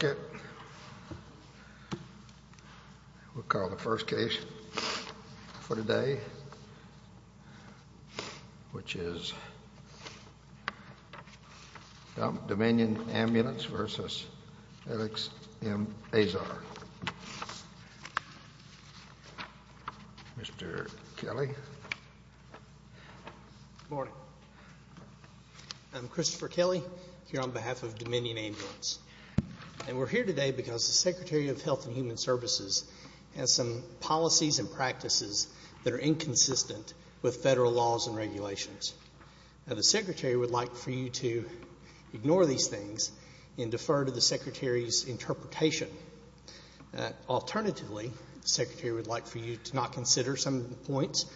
We'll call the first case for today, which is Dominion Ambulance v. Edex M. Azar. Mr. Kelly. Good morning. I'm Christopher Kelly, here on behalf of Dominion Ambulance. And we're here today because the Secretary of Health and Human Services has some policies and practices that are inconsistent with federal laws and regulations. Now, the Secretary would like for you to ignore these things and defer to the Secretary's interpretation. Alternatively, the Secretary would like for you to not consider some of the points,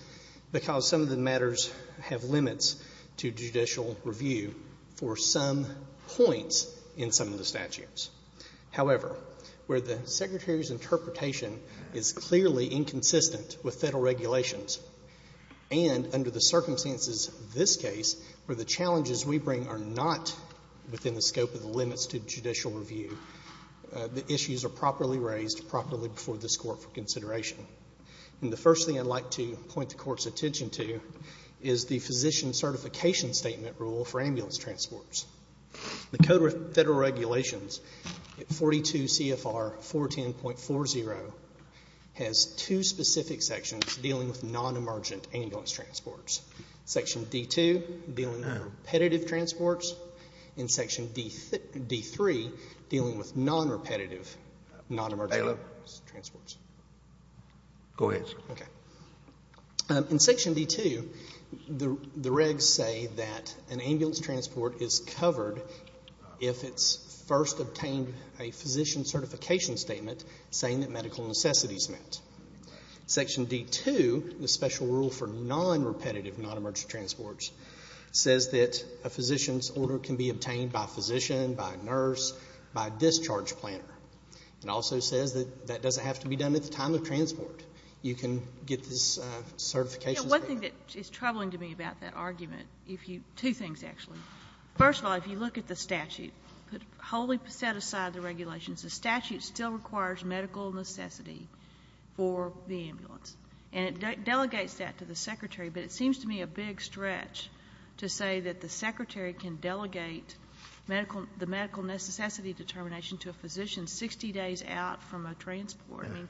because some of the matters have limits to judicial review for some points in some of the statutes. However, where the Secretary's interpretation is clearly inconsistent with federal regulations, and under the circumstances of this case, where the challenges we bring are not within the scope of the limits to judicial review, the issues are And the first thing I'd like to point the Court's attention to is the physician certification statement rule for ambulance transports. The Code of Federal Regulations at 42 CFR 410.40 has two specific sections dealing with non-emergent ambulance transports. Section D.2, dealing with repetitive transports, and Section D.3, dealing with non-repetitive non-emergent transports. Go ahead, sir. In Section D.2, the regs say that an ambulance transport is covered if it's first obtained a physician certification statement saying that medical necessities met. Section D.2, the special rule for non-repetitive non-emergent transports, says that a physician's order can be obtained by a physician, by a nurse, by a discharge planner. It also says that that doesn't have to be done at the time of transport. You can get this certification statement. One thing that is troubling to me about that argument, two things actually. First of all, if you look at the statute, wholly set aside the regulations, the statute still requires medical necessity for the ambulance. And it delegates that to the Secretary, but it seems to me a big stretch to say that the Secretary can delegate the medical necessity determination to a physician 60 days out from a transport. I mean,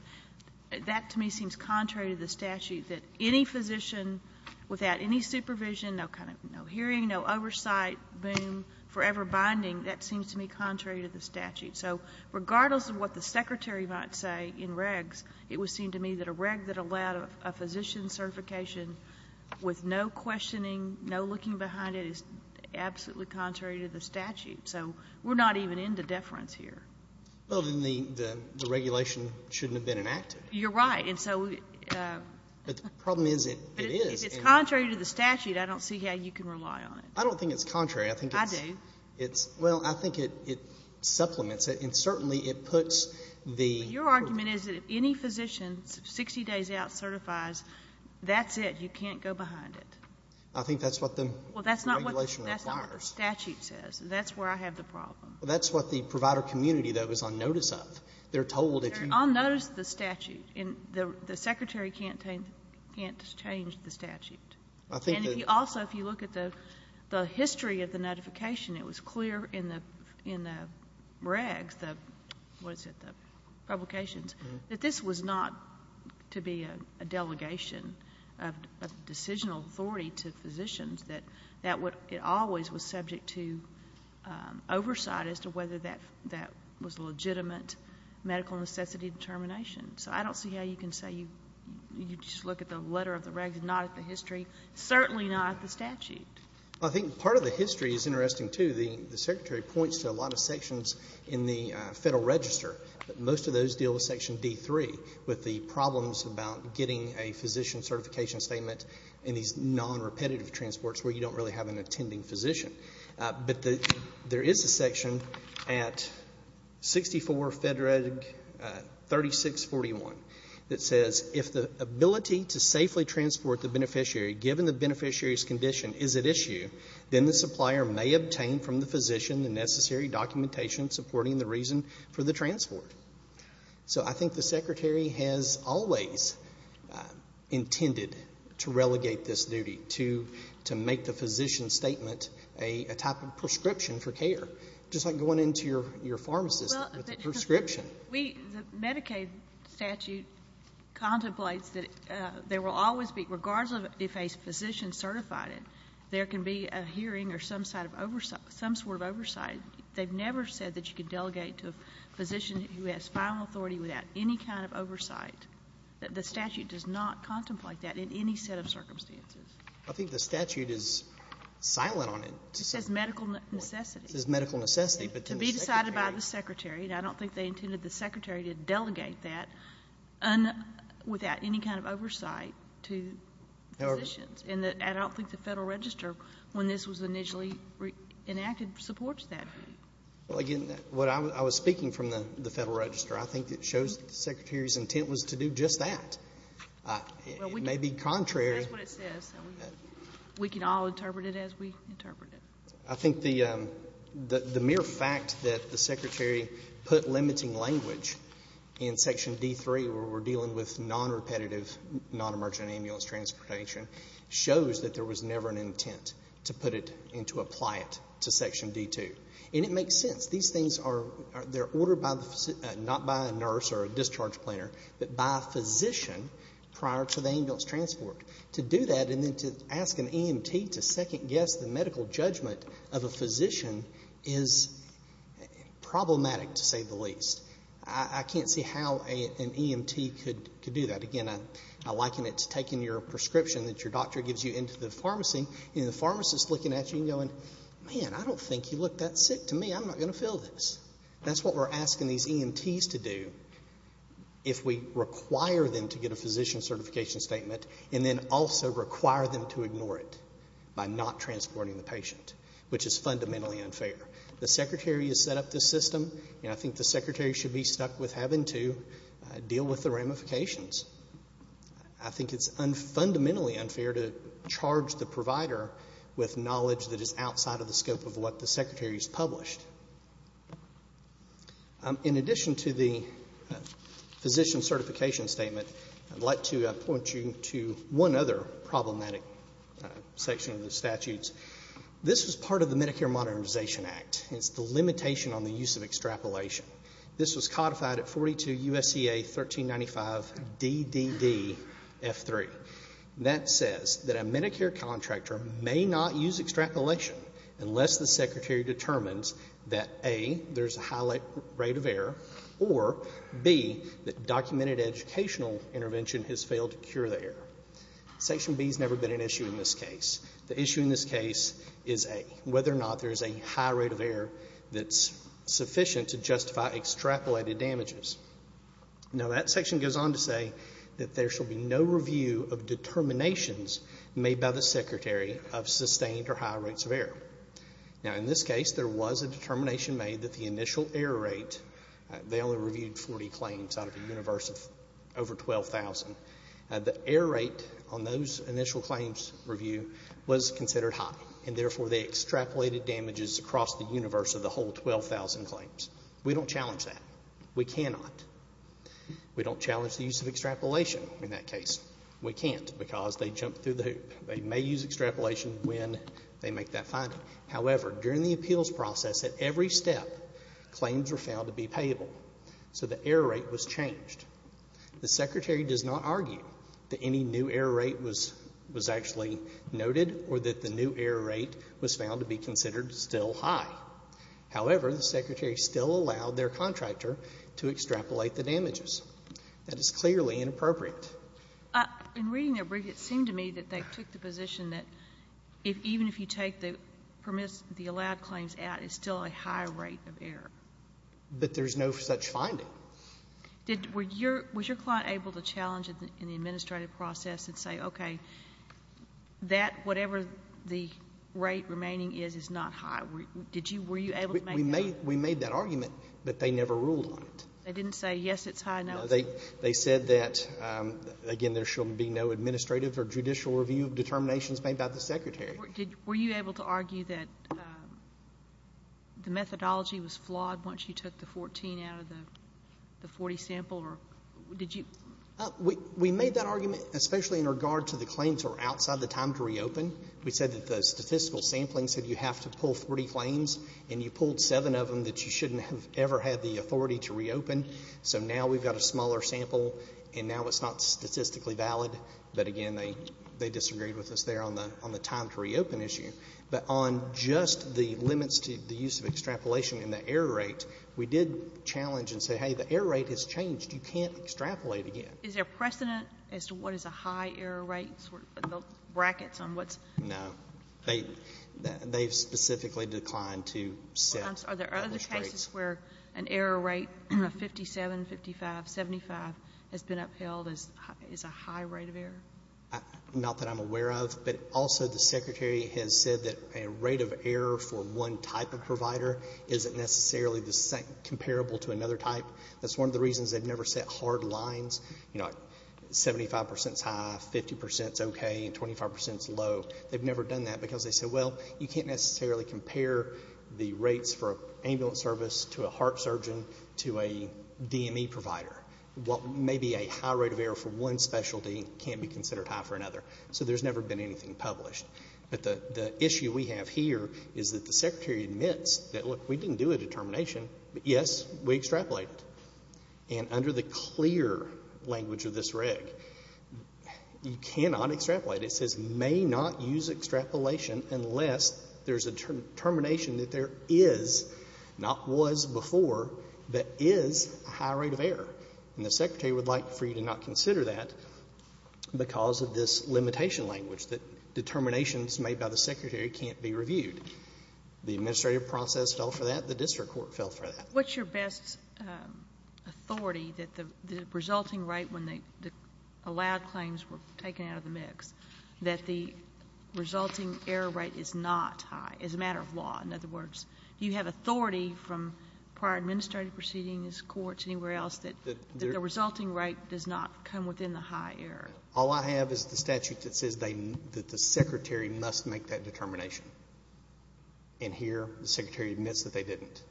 that to me seems contrary to the statute that any physician without any supervision, no hearing, no oversight, boom, forever binding, that seems to me contrary to the statute. So regardless of what the Secretary might say in regs, it would seem to me that a reg that allowed a physician certification with no questioning, no looking behind it, is absolutely contrary to the statute. So we're not even into deference here. Well, then the regulation shouldn't have been enacted. You're right. And so... But the problem is it is. But if it's contrary to the statute, I don't see how you can rely on it. I don't think it's contrary. I think it's... I do. Well, I think it supplements it. And certainly it puts the... That's it. You can't go behind it. I think that's what the regulation requires. Well, that's not what the statute says. That's where I have the problem. Well, that's what the provider community, though, is on notice of. They're told if you... They're on notice of the statute. And the Secretary can't change the statute. I think that... And if you also, if you look at the history of the notification, it was clear in the what is it, the publications, that this was not to be a delegation of decisional authority to physicians, that it always was subject to oversight as to whether that was a legitimate medical necessity determination. So I don't see how you can say you just look at the letter of the regulation, not at the history, certainly not at the statute. Well, I think part of the history is interesting, too. The Secretary points to a lot of sections in the Federal Register. But most of those deal with Section D3, with the problems about getting a physician certification statement in these non-repetitive transports where you don't really have an attending physician. But there is a section at 64 FEDREG 3641 that says, if the ability to safely transport the beneficiary, given the beneficiary's condition, is at issue, then the supplier may obtain from the physician the necessary documentation supporting the reason for the transport. So I think the Secretary has always intended to relegate this duty, to make the physician statement a type of prescription for care, just like going into your pharmacist with a prescription. The Medicaid statute contemplates that there will always be, regardless of if a physician certified it, there can be a hearing or some sort of oversight. They've never said that you could delegate to a physician who has final authority without any kind of oversight. The statute does not contemplate that in any set of circumstances. I think the statute is silent on it. It says medical necessity. It says medical necessity, but to the Secretary. To be decided by the Secretary, and I don't think they intended the Secretary to delegate that without any kind of oversight to physicians. And I don't think the Federal Register, when this was initially enacted, supports that. Well, again, what I was speaking from the Federal Register, I think it shows the Secretary's intent was to do just that. It may be contrary. That's what it says. We can all interpret it as we interpret it. I think the mere fact that the Secretary put limiting language in Section D.3, where we're dealing with non-repetitive, non-emergent ambulance transportation, shows that there was never an intent to put it and to apply it to Section D.2. And it makes sense. These things are ordered not by a nurse or a discharge planner, but by a physician prior to the ambulance transport. To do that and then to ask an EMT to second guess the medical judgment of a physician is problematic, to say the least. I can't see how an EMT could do that. Again, I liken it to taking your prescription that your doctor gives you into the pharmacy and the pharmacist looking at you and going, man, I don't think you look that sick to me. I'm not going to fill this. That's what we're asking these EMTs to do if we require them to get a physician certification statement and then also require them to ignore it by not transporting the patient, which is fundamentally unfair. The Secretary has set up this system, and I think the Secretary should be stuck with having to deal with the ramifications. I think it's fundamentally unfair to charge the provider with knowledge that is outside of the scope of what the Secretary has published. In addition to the physician certification statement, I'd like to point you to one other problematic section of the statutes. This is part of the Medicare Modernization Act. It's the limitation on the use of extrapolation. This was codified at 42 U.S.C.A. 1395 DDD F3. That says that a Medicare contractor may not use extrapolation unless the Secretary determines that, A, there's a high rate of error, or, B, that documented educational intervention has failed to cure the error. Section B has never been an issue in this case. The issue in this case is, A, whether or not there's a high rate of error that's sufficient to justify extrapolated damages. Now, that section goes on to say that there shall be no review of determinations made by the Secretary of sustained or high rates of error. Now, in this case, there was a determination made that the initial error rate, they only reviewed 40 claims out of a universe of over 12,000. The error rate on those initial claims review was considered high, and therefore they extrapolated damages across the universe of the whole 12,000 claims. We don't challenge that. We cannot. We don't challenge the use of extrapolation in that case. We can't because they jump through the hoop. They may use extrapolation when they make that finding. However, during the appeals process, at every step, claims were found to be payable, so the error rate was changed. The Secretary does not argue that any new error rate was actually noted or that the new error rate was found to be considered still high. However, the Secretary still allowed their contractor to extrapolate the damages. That is clearly inappropriate. In reading their brief, it seemed to me that they took the position that even if you take the allowed claims out, it's still a high rate of error. But there's no such finding. Was your client able to challenge it in the administrative process and say, okay, that whatever the rate remaining is is not high? Were you able to make that argument? We made that argument, but they never ruled on it. They didn't say, yes, it's high, no. They said that, again, there should be no administrative or judicial review of determinations made by the Secretary. Were you able to argue that the methodology was flawed once you took the 14 out of the 40 sample? We made that argument, especially in regard to the claims that were outside the time to reopen. We said that the statistical sampling said you have to pull 30 claims, and you pulled seven of them that you shouldn't have ever had the authority to reopen. So now we've got a smaller sample, and now it's not statistically valid. But, again, they disagreed with us there on the time to reopen issue. But on just the limits to the use of extrapolation and the error rate, we did challenge and say, hey, the error rate has changed. You can't extrapolate again. Is there precedent as to what is a high error rate, sort of the brackets on what's? No. They've specifically declined to set published rates. Where an error rate of 57, 55, 75 has been upheld is a high rate of error? Not that I'm aware of, but also the Secretary has said that a rate of error for one type of provider isn't necessarily comparable to another type. That's one of the reasons they've never set hard lines, you know, 75 percent is high, 50 percent is okay, and 25 percent is low. They've never done that because they said, well, you can't necessarily compare the rates for ambulance service to a heart surgeon to a DME provider. Maybe a high rate of error for one specialty can't be considered high for another. So there's never been anything published. But the issue we have here is that the Secretary admits that, look, we didn't do a determination, but, yes, we extrapolated. And under the clear language of this reg, you cannot extrapolate. It says may not use extrapolation unless there's a determination that there is, not was before, that is a high rate of error. And the Secretary would like for you to not consider that because of this limitation language that determinations made by the Secretary can't be reviewed. The administrative process fell for that. The district court fell for that. What's your best authority that the resulting rate when the allowed claims were taken out of the mix, that the resulting error rate is not high as a matter of law? In other words, do you have authority from prior administrative proceedings, courts, anywhere else that the resulting rate does not come within the high error? All I have is the statute that says that the Secretary must make that determination. And here the Secretary admits that they didn't.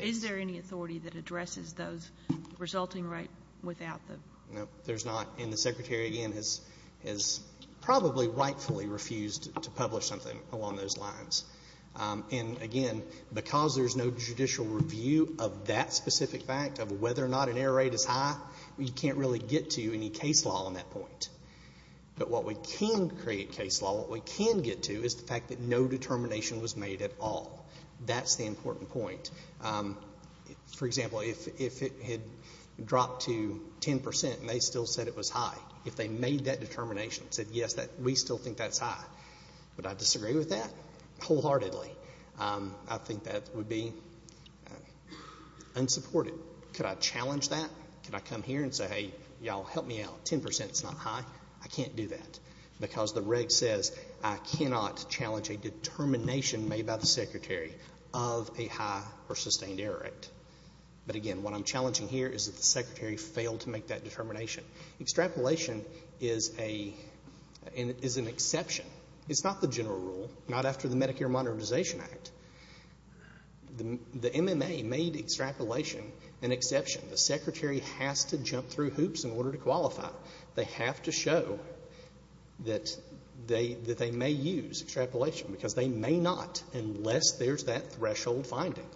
Is there any authority that addresses those resulting rate without the? No, there's not. And the Secretary, again, has probably rightfully refused to publish something along those lines. And, again, because there's no judicial review of that specific fact of whether or not an error rate is high, you can't really get to any case law on that point. But what we can create case law, what we can get to, is the fact that no determination was made at all. That's the important point. For example, if it had dropped to 10 percent and they still said it was high, if they made that determination and said, yes, we still think that's high, would I disagree with that wholeheartedly? I think that would be unsupported. Could I challenge that? Could I come here and say, hey, y'all, help me out, 10 percent's not high? I can't do that. Because the reg says I cannot challenge a determination made by the Secretary of a high or sustained error rate. But, again, what I'm challenging here is that the Secretary failed to make that determination. Extrapolation is an exception. It's not the general rule, not after the Medicare Modernization Act. The MMA made extrapolation an exception. The Secretary has to jump through hoops in order to qualify. They have to show that they may use extrapolation because they may not unless there's that threshold finding.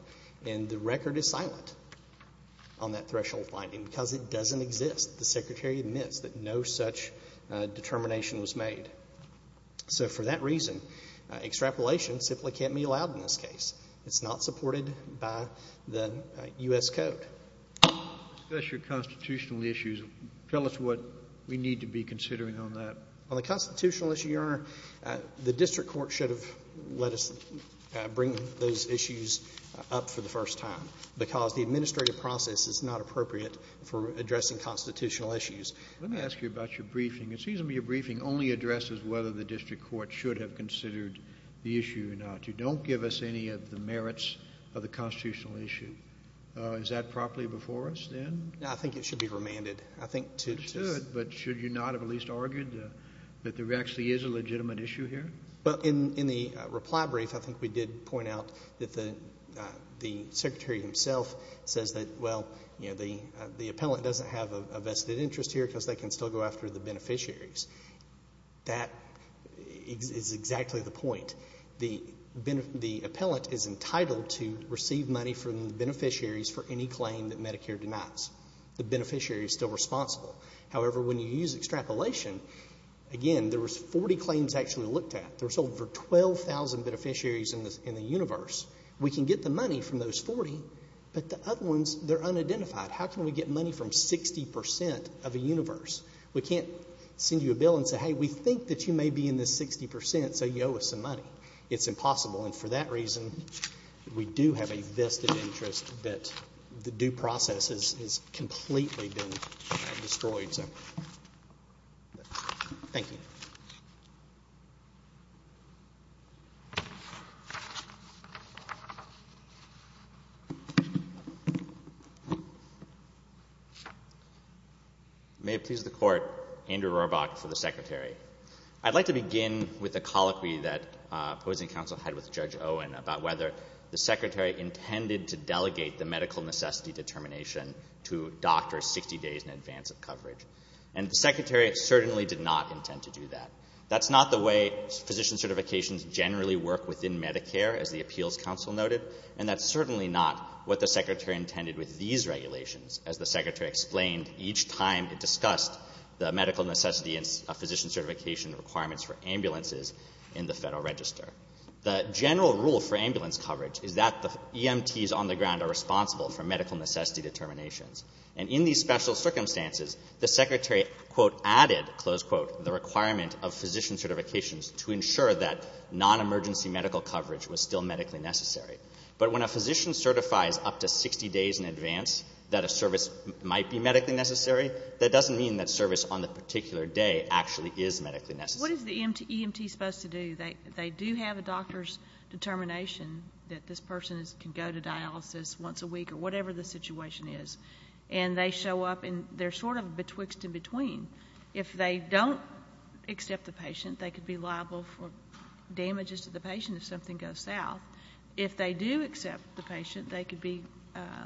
And the record is silent on that threshold finding because it doesn't exist. The Secretary admits that no such determination was made. So for that reason, extrapolation simply can't be allowed in this case. It's not supported by the U.S. Code. Especially constitutional issues. Tell us what we need to be considering on that. On the constitutional issue, Your Honor, the district court should have let us bring those issues up for the first time because the administrative process is not appropriate for addressing constitutional issues. Let me ask you about your briefing. It seems to me your briefing only addresses whether the district court should have considered the issue or not. You don't give us any of the merits of the constitutional issue. Is that properly before us then? I think it should be remanded. It should, but should you not have at least argued that there actually is a legitimate issue here? In the reply brief, I think we did point out that the Secretary himself says that, well, the appellant doesn't have a vested interest here because they can still go after the beneficiaries. That is exactly the point. The appellant is entitled to receive money from the beneficiaries for any claim that Medicare denies. The beneficiary is still responsible. However, when you use extrapolation, again, there was 40 claims actually looked at. There's over 12,000 beneficiaries in the universe. We can get the money from those 40, but the other ones, they're unidentified. How can we get money from 60% of the universe? We can't send you a bill and say, hey, we think that you may be in this 60%, so you owe us some money. It's impossible. And for that reason, we do have a vested interest that the due process has completely been destroyed. So thank you. Thank you. May it please the Court, Andrew Rohrbach for the Secretary. I'd like to begin with a colloquy that opposing counsel had with Judge Owen about whether the Secretary intended to delegate the medical necessity determination to doctors 60 days in advance of coverage. And the Secretary certainly did not intend to do that. That's not the way physician certifications generally work within Medicare, as the appeals counsel noted. And that's certainly not what the Secretary intended with these regulations, as the Secretary explained each time it discussed the medical necessity and physician certification requirements for ambulances in the Federal Register. The general rule for ambulance coverage is that the EMTs on the ground are responsible for medical necessity determinations. And in these special circumstances, the Secretary, quote, added, close quote, the requirement of physician certifications to ensure that nonemergency medical coverage was still medically necessary. But when a physician certifies up to 60 days in advance that a service might be medically necessary, that doesn't mean that service on the particular day actually is medically necessary. What is the EMT supposed to do? They do have a doctor's determination that this person can go to dialysis once a week or whatever the situation is. And they show up, and they're sort of betwixt and between. If they don't accept the patient, they could be liable for damages to the patient if something goes south. If they do accept the patient, they could be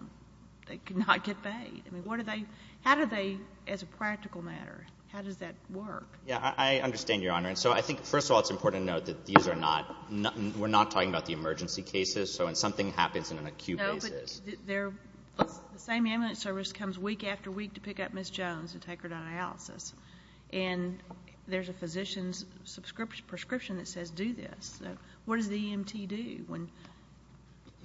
— they could not get paid. I mean, what do they — how do they, as a practical matter, how does that work? Yeah, I understand, Your Honor. And so I think, first of all, it's important to note that these are not — we're not talking about the emergency cases. So when something happens in an acute case — the same ambulance service comes week after week to pick up Ms. Jones and take her to dialysis. And there's a physician's prescription that says do this. So what does the EMT do when —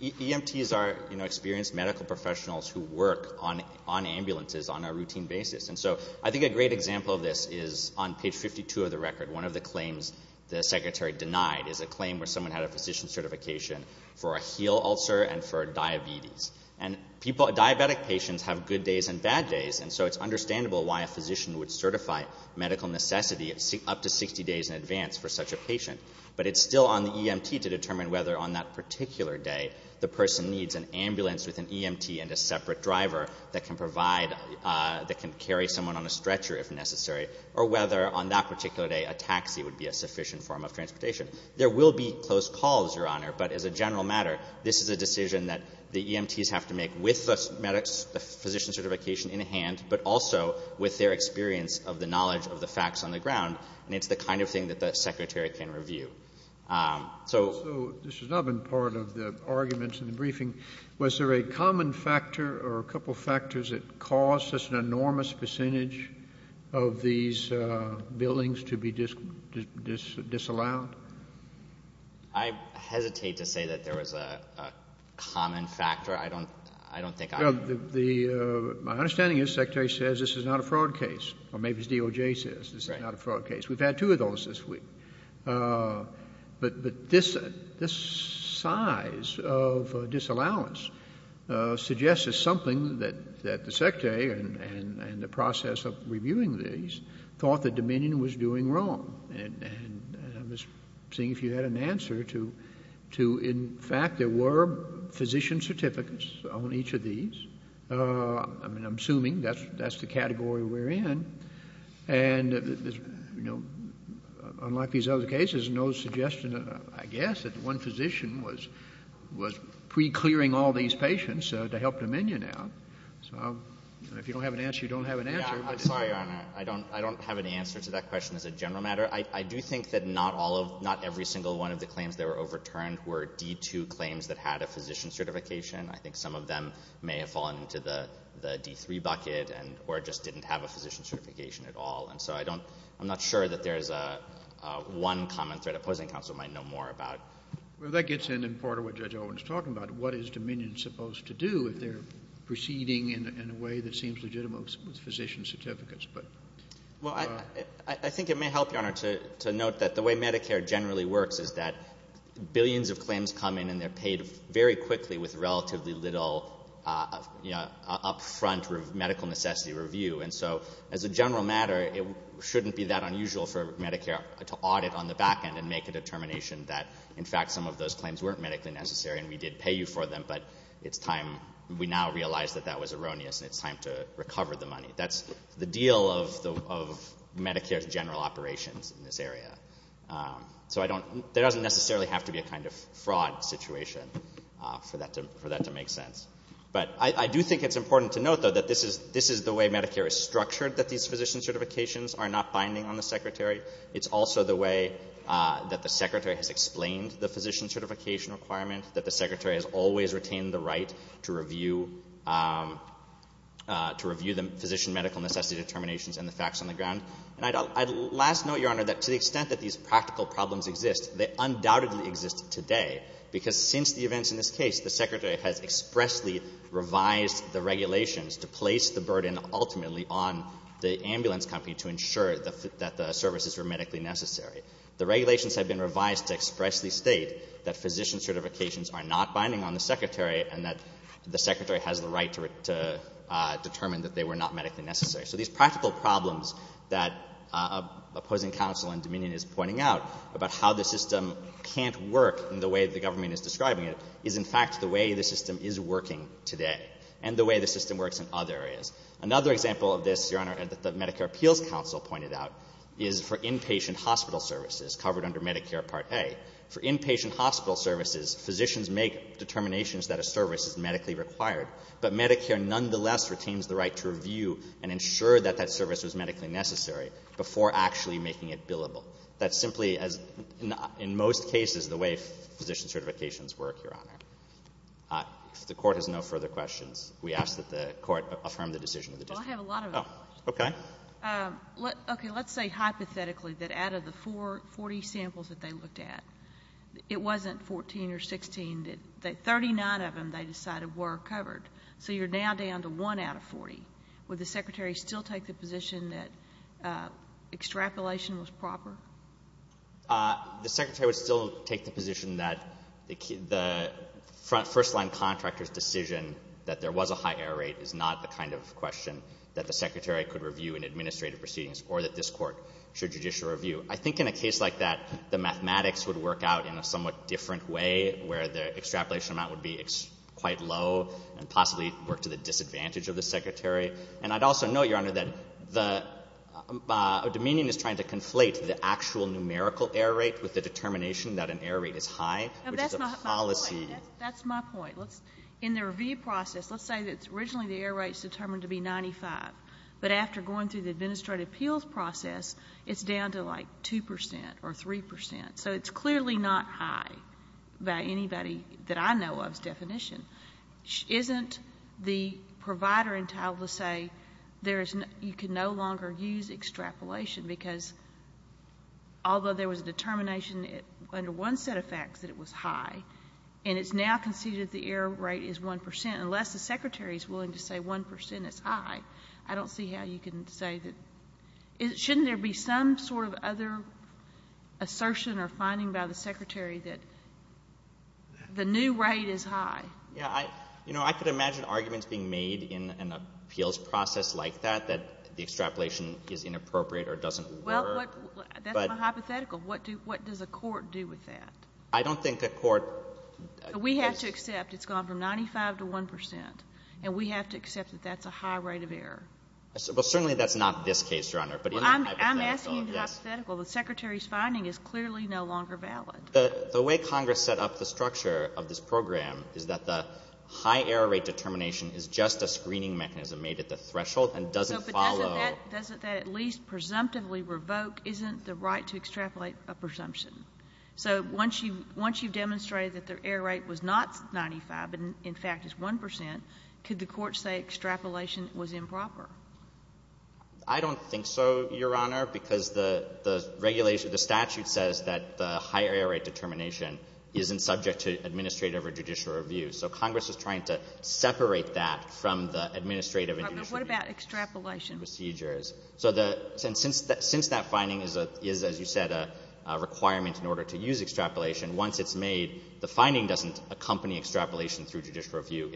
EMTs are, you know, experienced medical professionals who work on ambulances on a routine basis. And so I think a great example of this is on page 52 of the record. One of the claims the secretary denied is a claim where someone had a physician certification for a heel ulcer and for diabetes. And people — diabetic patients have good days and bad days, and so it's understandable why a physician would certify medical necessity up to 60 days in advance for such a patient. But it's still on the EMT to determine whether on that particular day the person needs an ambulance with an EMT and a separate driver that can provide — that can carry someone on a stretcher if necessary, or whether on that particular day a taxi would be a sufficient form of transportation. There will be close calls, Your Honor, but as a general matter, this is a decision that the EMTs have to make with the physician certification in hand, but also with their experience of the knowledge of the facts on the ground. And it's the kind of thing that the secretary can review. So — So this has not been part of the arguments in the briefing. Was there a common factor or a couple of factors that caused such an enormous percentage of these buildings to be disallowed? I hesitate to say that there was a common factor. I don't think I — My understanding is the secretary says this is not a fraud case, or maybe it's DOJ says this is not a fraud case. Right. We've had two of those this week. But this size of disallowance suggests there's something that the secretary and the process of reviewing these thought the Dominion was doing wrong. And I'm just seeing if you had an answer to, in fact, there were physician certificates on each of these. I mean, I'm assuming that's the category we're in. And, you know, unlike these other cases, no suggestion, I guess, that one physician was pre-clearing all these patients to help Dominion out. So if you don't have an answer, you don't have an answer. Yeah. I'm sorry, Your Honor. I don't have an answer to that question as a general matter. I do think that not all of — not every single one of the claims that were overturned were D-2 claims that had a physician certification. I think some of them may have fallen into the D-3 bucket or just didn't have a physician certification at all. And so I don't — I'm not sure that there's one common threat a opposing counsel might know more about. Well, that gets in, in part, to what Judge Owen is talking about. What is Dominion supposed to do if they're proceeding in a way that seems legitimate with physician certificates? Well, I think it may help, Your Honor, to note that the way Medicare generally works is that billions of claims come in and they're paid very quickly with relatively little upfront medical necessity review. And so, as a general matter, it shouldn't be that unusual for Medicare to audit on the back end and make a determination that, in fact, some of those claims weren't medically necessary and we did pay you for them, but it's time — we now realize that that was erroneous, and it's time to recover the money. That's the deal of Medicare's general operations in this area. So I don't — there doesn't necessarily have to be a kind of fraud situation for that to — for that to make sense. But I do think it's important to note, though, that this is — this is the way Medicare is structured, that these physician certifications are not binding on the secretary. It's also the way that the secretary has explained the physician certification requirement, that the secretary has always retained the right to review — to review the physician medical necessity determinations and the facts on the ground. And I'd — I'd last note, Your Honor, that to the extent that these practical problems exist, they undoubtedly exist today, because since the events in this case, the secretary has expressly revised the regulations to place the burden ultimately on the ambulance company to ensure that the services were medically necessary. The regulations have been revised to expressly state that physician certifications are not binding on the secretary and that the secretary has the right to determine that they were not medically necessary. So these practical problems that opposing counsel in Dominion is pointing out about how the system can't work in the way the government is describing it is, in fact, the way the system is working today and the way the system works in other areas. Another example of this, Your Honor, that the Medicare Appeals Council pointed out is for inpatient hospital services covered under Medicare Part A. For inpatient hospital services, physicians make determinations that a service is medically required, but Medicare nonetheless retains the right to review and ensure that that service was medically necessary before actually making it billable. That's simply, as in most cases, the way physician certifications work, Your Honor. If the Court has no further questions, we ask that the Court affirm the decision of the district. Oh, okay. Okay. Let's say hypothetically that out of the 40 samples that they looked at, it wasn't 14 or 16. 39 of them they decided were covered. So you're now down to 1 out of 40. Would the Secretary still take the position that extrapolation was proper? The Secretary would still take the position that the first-line contractor's decision that there was a high error rate is not the kind of question that the Secretary could review in administrative proceedings or that this Court should judicially review. I think in a case like that, the mathematics would work out in a somewhat different way where the extrapolation amount would be quite low and possibly work to the disadvantage of the Secretary. And I'd also note, Your Honor, that the — Domenion is trying to conflate the actual numerical error rate with the determination that an error rate is high, which is a policy — That's my point. That's my point. In the review process, let's say that originally the error rate is determined to be 95. But after going through the administrative appeals process, it's down to like 2 percent or 3 percent. So it's clearly not high by anybody that I know of's definition. Isn't the provider entitled to say there is — you can no longer use extrapolation because although there was a determination under one set of facts that it was high and it's now conceded the error rate is 1 percent, unless the Secretary is willing to say 1 percent is high, I don't see how you can say that — shouldn't there be some sort of other assertion or finding by the Secretary that the new rate is high? Yeah. You know, I could imagine arguments being made in an appeals process like that, that the extrapolation is inappropriate or doesn't work. Well, that's my hypothetical. What does a court do with that? I don't think a court — We have to accept it's gone from 95 to 1 percent, and we have to accept that that's a high rate of error. Well, certainly that's not this case, Your Honor. But in a hypothetical, yes. Well, I'm asking hypothetical. The Secretary's finding is clearly no longer valid. The way Congress set up the structure of this program is that the high error rate determination is just a screening mechanism made at the threshold and doesn't follow — But doesn't that at least presumptively revoke — isn't the right to extrapolate a presumption? So once you've demonstrated that the error rate was not 95 but, in fact, is 1 percent, could the court say extrapolation was improper? I don't think so, Your Honor, because the regulation — the statute says that the high error rate determination isn't subject to administrative or judicial review. So Congress is trying to separate that from the administrative and judicial procedures. But what about extrapolation? So the — since that finding is, as you said, a requirement in order to use extrapolation, once it's made, the finding doesn't accompany extrapolation through judicial review.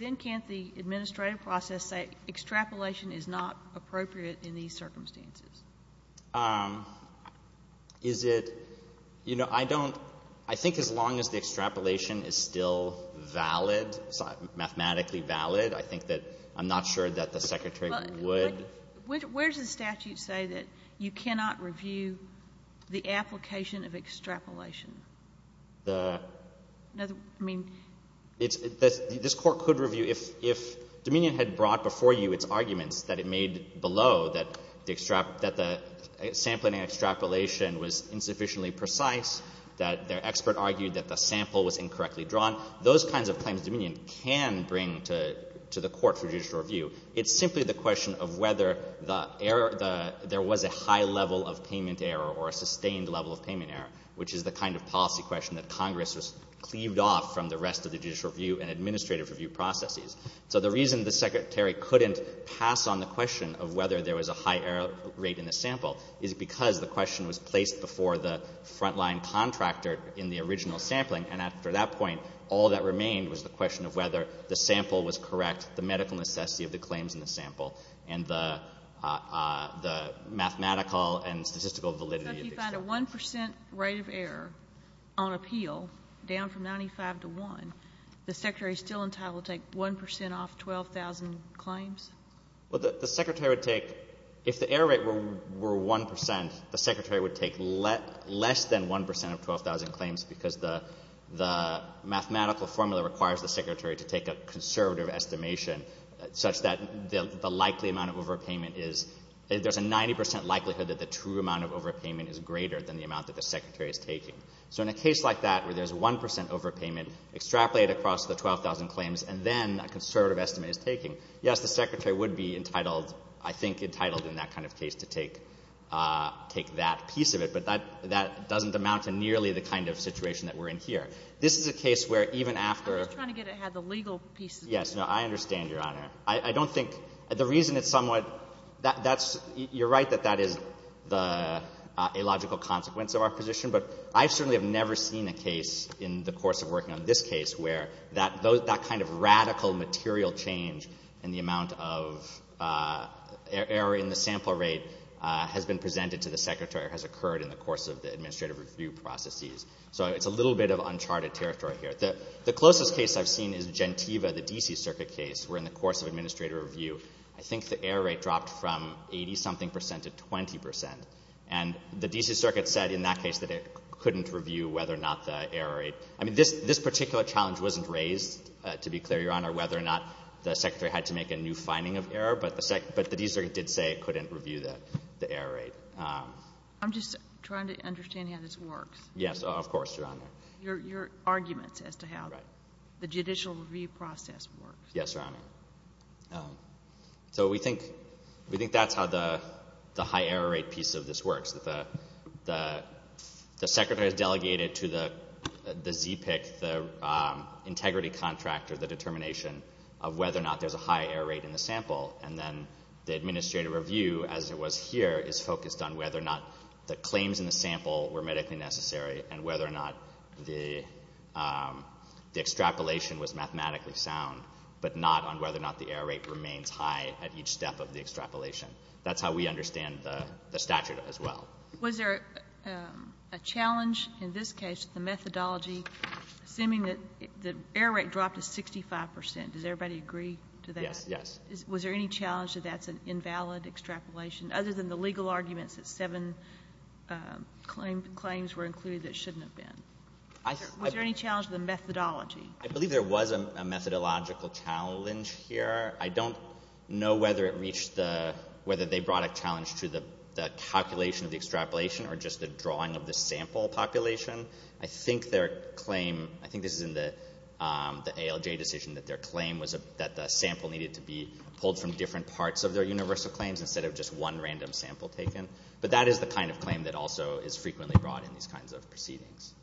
Then can't the administrative process say extrapolation is not appropriate in these circumstances? Is it — you know, I don't — I think as long as the extrapolation is still valid, mathematically valid, I think that — I'm not sure that the Secretary would — But where does the statute say that you cannot review the application of extrapolation? The — I mean — It's — this Court could review if — if Dominion had brought before you its arguments that it made below that the — that the sampling and extrapolation was insufficiently precise, that their expert argued that the sample was incorrectly drawn, those kinds of claims Dominion can bring to the Court for judicial review. It's simply the question of whether the error — there was a high level of payment error or a sustained level of payment error, which is the kind of policy question that Congress has cleaved off from the rest of the judicial review and administrative review processes. So the reason the Secretary couldn't pass on the question of whether there was a high error rate in the sample is because the question was placed before the frontline contractor in the original sampling. And after that point, all that remained was the question of whether the sample was correct, the medical necessity of the claims in the sample, and the — the mathematical and statistical validity of the — But if you find a 1 percent rate of error on appeal down from 95 to 1, the Secretary is still entitled to take 1 percent off 12,000 claims? Well, the — the Secretary would take — if the error rate were — were 1 percent, the Secretary would take less than 1 percent of 12,000 claims because the — the mathematical formula requires the Secretary to take a conservative estimation such that the likely amount of overpayment is — there's a 90 percent likelihood that the true amount of overpayment is greater than the amount that the Secretary is taking. So in a case like that where there's 1 percent overpayment extrapolated across the 12,000 claims and then a conservative estimate is taking, yes, the Secretary would be entitled — I think entitled in that kind of case to take — take that piece of it, but that — that doesn't amount to nearly the kind of situation that we're in here. This is a case where even after — I'm just trying to get ahead of the legal piece of it. Yes, no, I understand, Your Honor. I — I don't think — the reason it's somewhat — that's — you're right that that is the illogical consequence of our position, but I certainly have never seen a case in the course of working on this case where that — that kind of radical material change in the amount of error in the sample rate has been presented to the Secretary or has occurred in the course of the administrative review processes. So it's a little bit of uncharted territory here. The closest case I've seen is Gentiva, the D.C. Circuit case, where in the course of administrative review, I think the error rate dropped from 80-something percent to 20 percent, and the D.C. Circuit said in that case that it couldn't review whether or not the error rate — I mean, this particular challenge wasn't raised, to be clear, Your Honor, whether or not the Secretary had to make a new finding of error, but the D.C. Circuit did say it couldn't review the error rate. I'm just trying to understand how this works. Yes, of course, Your Honor. Your arguments as to how the judicial review process works. Yes, Your Honor. So we think that's how the high error rate piece of this works, that the Secretary is delegated to the ZPIC, the integrity contractor, the determination of whether or not there's a high error rate in the sample, and then the administrative review, as it was here, is focused on whether or not the claims in the sample were medically necessary and whether or not the extrapolation was mathematically sound, but not on whether or not the error rate remains high at each step of the extrapolation. That's how we understand the statute as well. Was there a challenge in this case, the methodology, assuming that the error rate dropped to 65 percent? Does everybody agree to that? Yes. Was there any challenge that that's an invalid extrapolation? Other than the legal arguments that seven claims were included that shouldn't have been. Was there any challenge with the methodology? I believe there was a methodological challenge here. I don't know whether it reached the — whether they brought a challenge to the calculation of the extrapolation or just the drawing of the sample population. I think their claim — I think this is in the ALJ decision that their claim was that the sample needed to be pulled from different parts of their universal claims instead of just one random sample taken. But that is the kind of claim that also is frequently brought in these kinds of proceedings.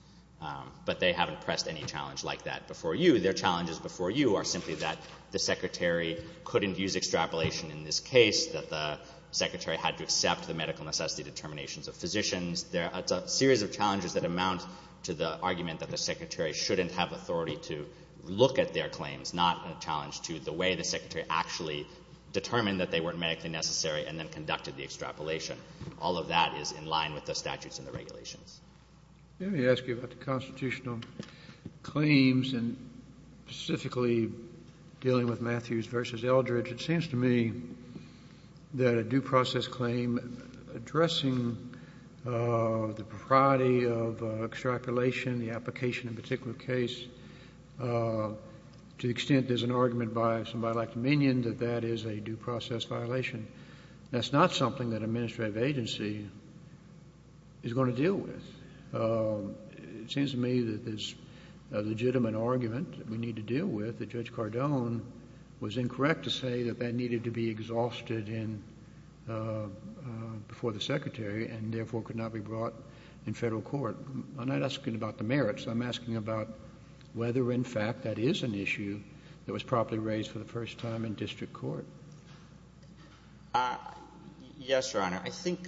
But they haven't pressed any challenge like that before you. Their challenges before you are simply that the secretary couldn't use extrapolation in this case, that the secretary had to accept the medical necessity determinations of physicians. It's a series of challenges that amount to the argument that the secretary shouldn't have authority to look at their claims, not a challenge to the way the and then conducted the extrapolation. All of that is in line with the statutes and the regulations. Kennedy. Let me ask you about the constitutional claims and specifically dealing with Matthews v. Eldridge. It seems to me that a due process claim addressing the propriety of extrapolation, the application in a particular case, to the extent there's an argument by somebody like Minion that that is a due process violation. That's not something that an administrative agency is going to deal with. It seems to me that there's a legitimate argument that we need to deal with that Judge Cardone was incorrect to say that that needed to be exhausted before the secretary and therefore could not be brought in Federal court. I'm not asking about the merits. I'm asking about whether, in fact, that is an issue that was properly raised for the first time in district court. Yes, Your Honor. I think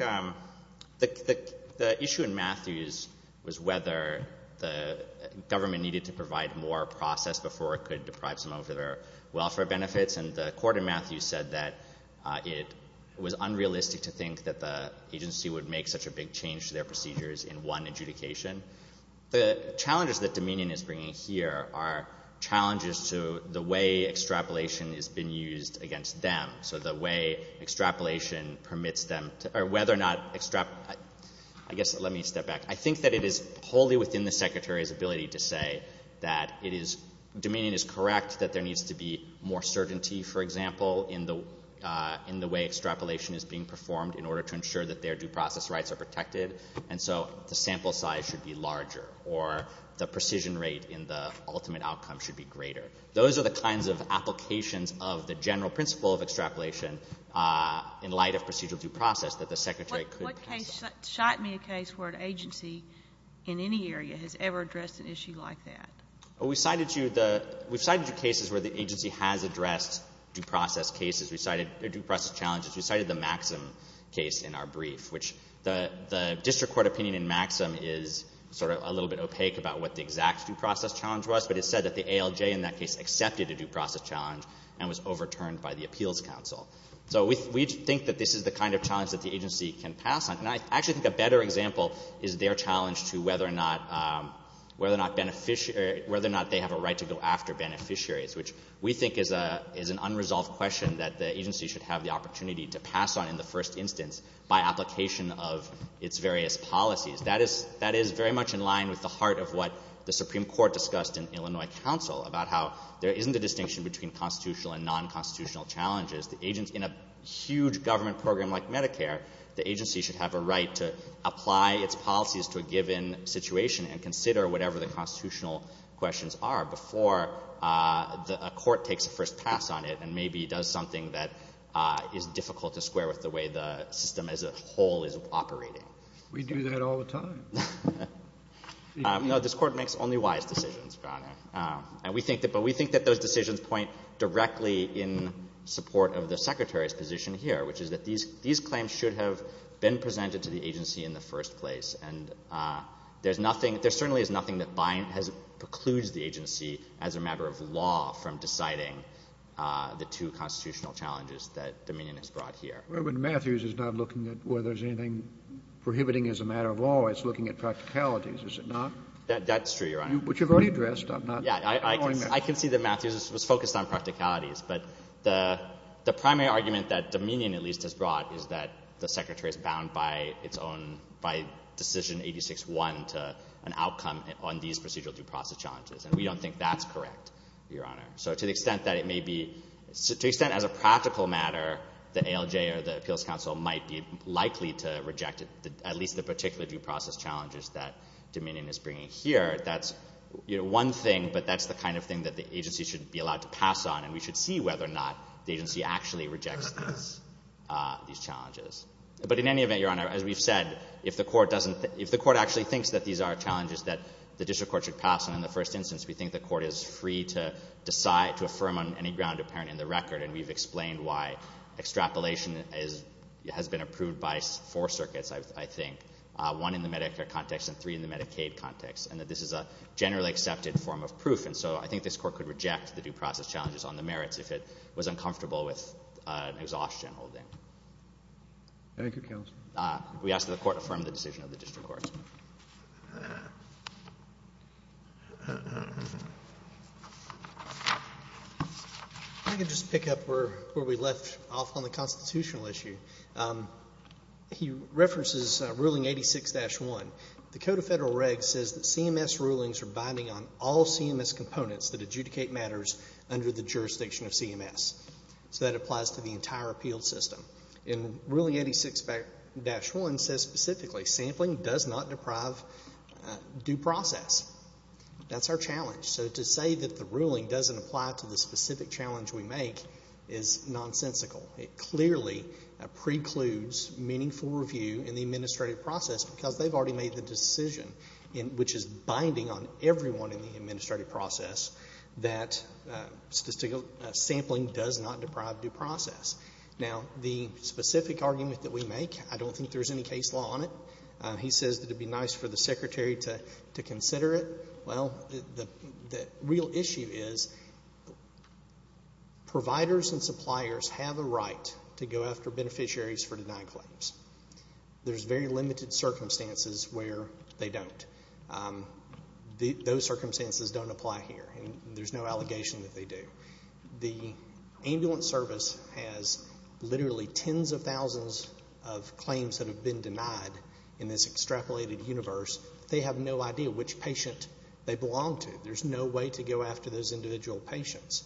the issue in Matthews was whether the government needed to provide more process before it could deprive someone of their welfare benefits. And the Court in Matthews said that it was unrealistic to think that the agency would make such a big change to their procedures in one adjudication. The challenges that Dominion is bringing here are challenges to the way extrapolation has been used against them, so the way extrapolation permits them to — or whether or not — I guess let me step back. I think that it is wholly within the secretary's ability to say that it is — Dominion is correct that there needs to be more certainty, for example, in the way extrapolation is being performed in order to ensure that their due process rights are protected. And so the sample size should be larger, or the precision rate in the ultimate outcome should be greater. Those are the kinds of applications of the general principle of extrapolation in light of procedural due process that the secretary could pass on. What case — shot me a case where an agency in any area has ever addressed an issue like that. Well, we cited you the — we cited you cases where the agency has addressed due process cases. We cited — or due process challenges. We cited the Maxim case in our brief, which the district court opinion in Maxim is sort of a little bit opaque about what the exact due process challenge was, but it said that the ALJ in that case accepted a due process challenge and was overturned by the Appeals Council. So we think that this is the kind of challenge that the agency can pass on. And I actually think a better example is their challenge to whether or not — whether or not beneficiary — whether or not they have a right to go after beneficiaries, which we think is an unresolved question that the agency should have the opportunity to pass on in the first instance by application of its various policies. That is — that is very much in line with the heart of what the Supreme Court discussed in Illinois counsel about how there isn't a distinction between constitutional and non-constitutional challenges. The — in a huge government program like Medicare, the agency should have a right before a court takes a first pass on it and maybe does something that is difficult to square with the way the system as a whole is operating. We do that all the time. No, this Court makes only wise decisions, Your Honor. And we think that — but we think that those decisions point directly in support of the Secretary's position here, which is that these — these claims should have been presented to the agency in the first place. And there's nothing — there certainly is nothing that binds — precludes the agency as a matter of law from deciding the two constitutional challenges that Dominion has brought here. But Matthews is not looking at whether there's anything prohibiting as a matter of law. It's looking at practicalities, is it not? That's true, Your Honor. Which you've already addressed. I'm not — Yeah, I can see that Matthews was focused on practicalities. But the primary argument that Dominion, at least, has brought is that the Secretary is bound by its own — by Decision 86-1 to an outcome on these procedural due process challenges. And we don't think that's correct, Your Honor. So to the extent that it may be — to the extent, as a practical matter, the ALJ or the Appeals Council might be likely to reject at least the particular due process challenges that Dominion is bringing here, that's, you know, one thing, but that's the kind of thing that the agency should be allowed to pass on. And we should see whether or not the agency actually rejects these challenges. But in any event, Your Honor, as we've said, if the court doesn't — if the court actually thinks that these are challenges that the district court should pass on in the first instance, we think the court is free to decide — to affirm on any ground apparent in the record. And we've explained why extrapolation is — has been approved by four circuits, I think, one in the Medicare context and three in the Medicaid context, and that this is a generally accepted form of proof. And so I think this court could reject the due process challenges on the merits if it was uncomfortable with exhaustion holding. Thank you, counsel. We ask that the Court affirm the decision of the district court. I can just pick up where we left off on the constitutional issue. He references Ruling 86-1. The Code of Federal Regs says that CMS rulings are binding on all CMS components that adjudicate matters under the jurisdiction of CMS. So that applies to the entire appeals system. And Ruling 86-1 says specifically sampling does not deprive due process. That's our challenge. So to say that the ruling doesn't apply to the specific challenge we make is nonsensical. It clearly precludes meaningful review in the administrative process because they've already made the decision, which is binding on everyone in the administrative process, that sampling does not deprive due process. Now, the specific argument that we make, I don't think there's any case law on it. He says that it would be nice for the secretary to consider it. Well, the real issue is providers and suppliers have a right to go after beneficiaries for denied claims. There's very limited circumstances where they don't. Those circumstances don't apply here, and there's no allegation that they do. The ambulance service has literally tens of thousands of claims that have been denied in this extrapolated universe. They have no idea which patient they belong to. There's no way to go after those individual patients.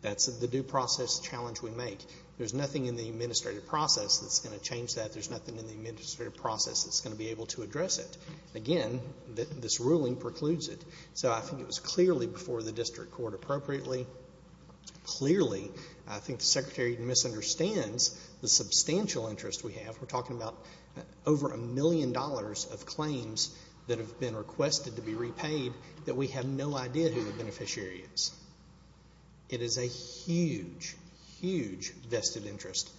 That's the due process challenge we make. There's nothing in the administrative process that's going to change that. There's nothing in the administrative process that's going to be able to address it. Again, this ruling precludes it. So I think it was clearly before the district court appropriately. Clearly, I think the secretary misunderstands the substantial interest we have. We're talking about over a million dollars of claims that have been requested to be repaid that we have no idea who the beneficiary is. It is a huge, huge vested interest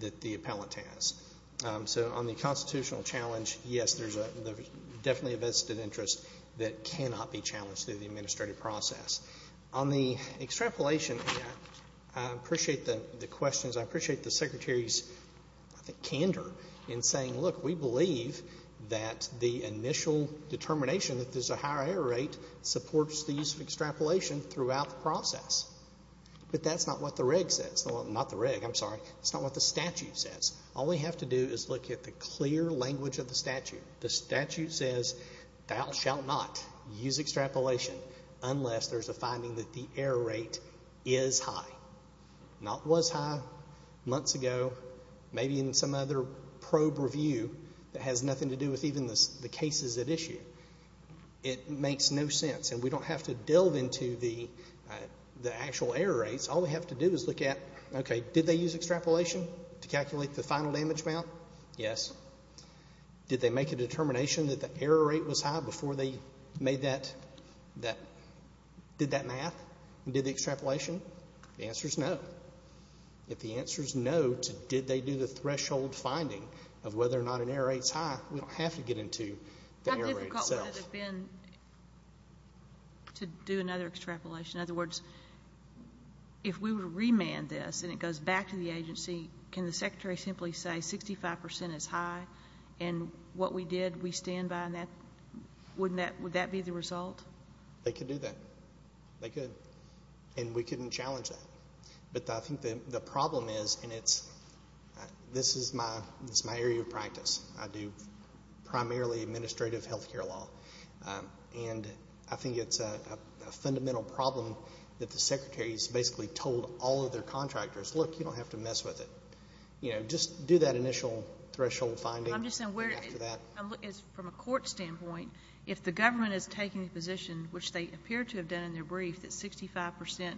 that the appellant has. So on the constitutional challenge, yes, there's definitely a vested interest that cannot be challenged through the administrative process. On the extrapolation, I appreciate the questions. I appreciate the secretary's, I think, candor in saying, look, we believe that the initial determination that there's a higher error rate supports the use of extrapolation throughout the process. But that's not what the reg says. Well, not the reg. I'm sorry. That's not what the statute says. All we have to do is look at the clear language of the statute. The statute says thou shalt not use extrapolation unless there's a finding that the error rate is high, not was high months ago, maybe in some other probe review that has nothing to do with even the cases at issue. It makes no sense. And we don't have to delve into the actual error rates. All we have to do is look at, okay, did they use extrapolation to calculate the final damage amount? Yes. Did they make a determination that the error rate was high before they made that, did that math and did the extrapolation? The answer is no. If the answer is no to did they do the threshold finding of whether or not an error rate is high, we don't have to get into the error rate itself. How difficult would it have been to do another extrapolation? In other words, if we were to remand this and it goes back to the agency, can the Secretary simply say 65% is high and what we did, we stand by that? Wouldn't that be the result? They could do that. They could. And we couldn't challenge that. But I think the problem is, and this is my area of practice. I do primarily administrative health care law. And I think it's a fundamental problem that the Secretary's basically told all of their contractors, look, you don't have to mess with it. You know, just do that initial threshold finding. I'm just saying, from a court standpoint, if the government is taking a position, which they appear to have done in their brief, that 65%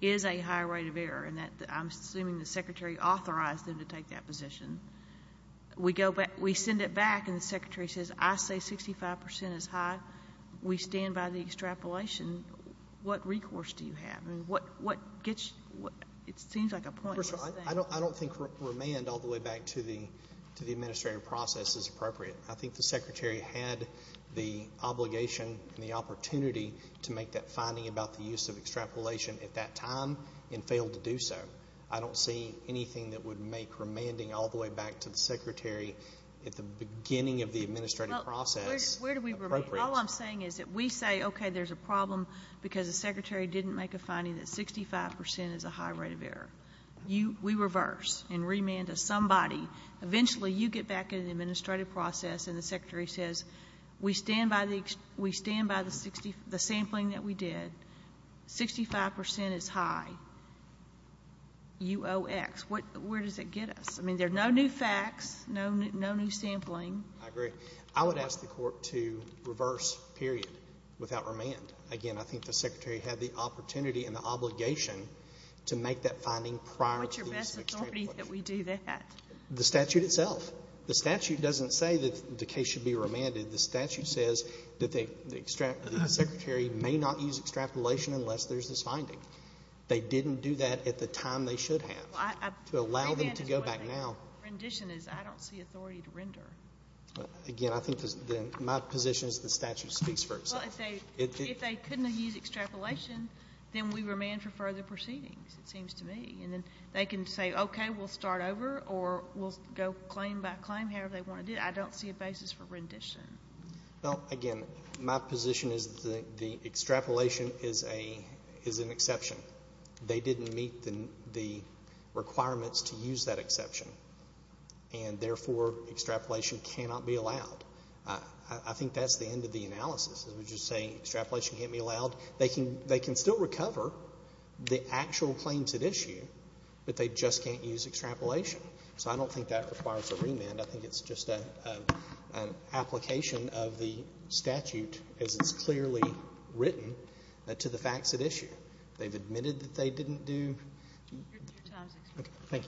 is a high rate of error and that I'm assuming the Secretary authorized them to take that position. We send it back and the Secretary says, I say 65% is high. We stand by the extrapolation. What recourse do you have? It seems like a pointless thing. I don't think remand all the way back to the administrative process is appropriate. I think the Secretary had the obligation and the opportunity to make that finding about the use of extrapolation at that time and failed to do so. I don't see anything that would make remanding all the way back to the Secretary at the beginning of the administrative process appropriate. Where do we remain? All I'm saying is that we say, okay, there's a problem because the Secretary didn't make a finding that 65% is a high rate of error. We reverse and remand to somebody. Eventually you get back into the administrative process and the Secretary says, we stand by the sampling that we did. 65% is high. UOX. Where does it get us? I mean, there are no new facts, no new sampling. I agree. I would ask the Court to reverse, period, without remand. Again, I think the Secretary had the opportunity and the obligation to make that finding prior to the use of extrapolation. What's your best authority that we do that? The statute itself. The statute doesn't say that the case should be remanded. The statute says that the Secretary may not use extrapolation unless there's this finding. They didn't do that at the time they should have. To allow them to go back now. The remand is what the rendition is. I don't see authority to render. Again, I think my position is the statute speaks for itself. Well, if they couldn't have used extrapolation, then we remand for further proceedings, it seems to me. And then they can say, okay, we'll start over or we'll go claim by claim, however they want to do it. I don't see a basis for rendition. Well, again, my position is that the extrapolation is an exception. They didn't meet the requirements to use that exception. And, therefore, extrapolation cannot be allowed. I think that's the end of the analysis. We're just saying extrapolation can't be allowed. They can still recover the actual claims at issue, but they just can't use extrapolation. So I don't think that requires a remand. I think it's just an application of the statute as it's clearly written to the facts at issue. They've admitted that they didn't do. Thank you. Thank you.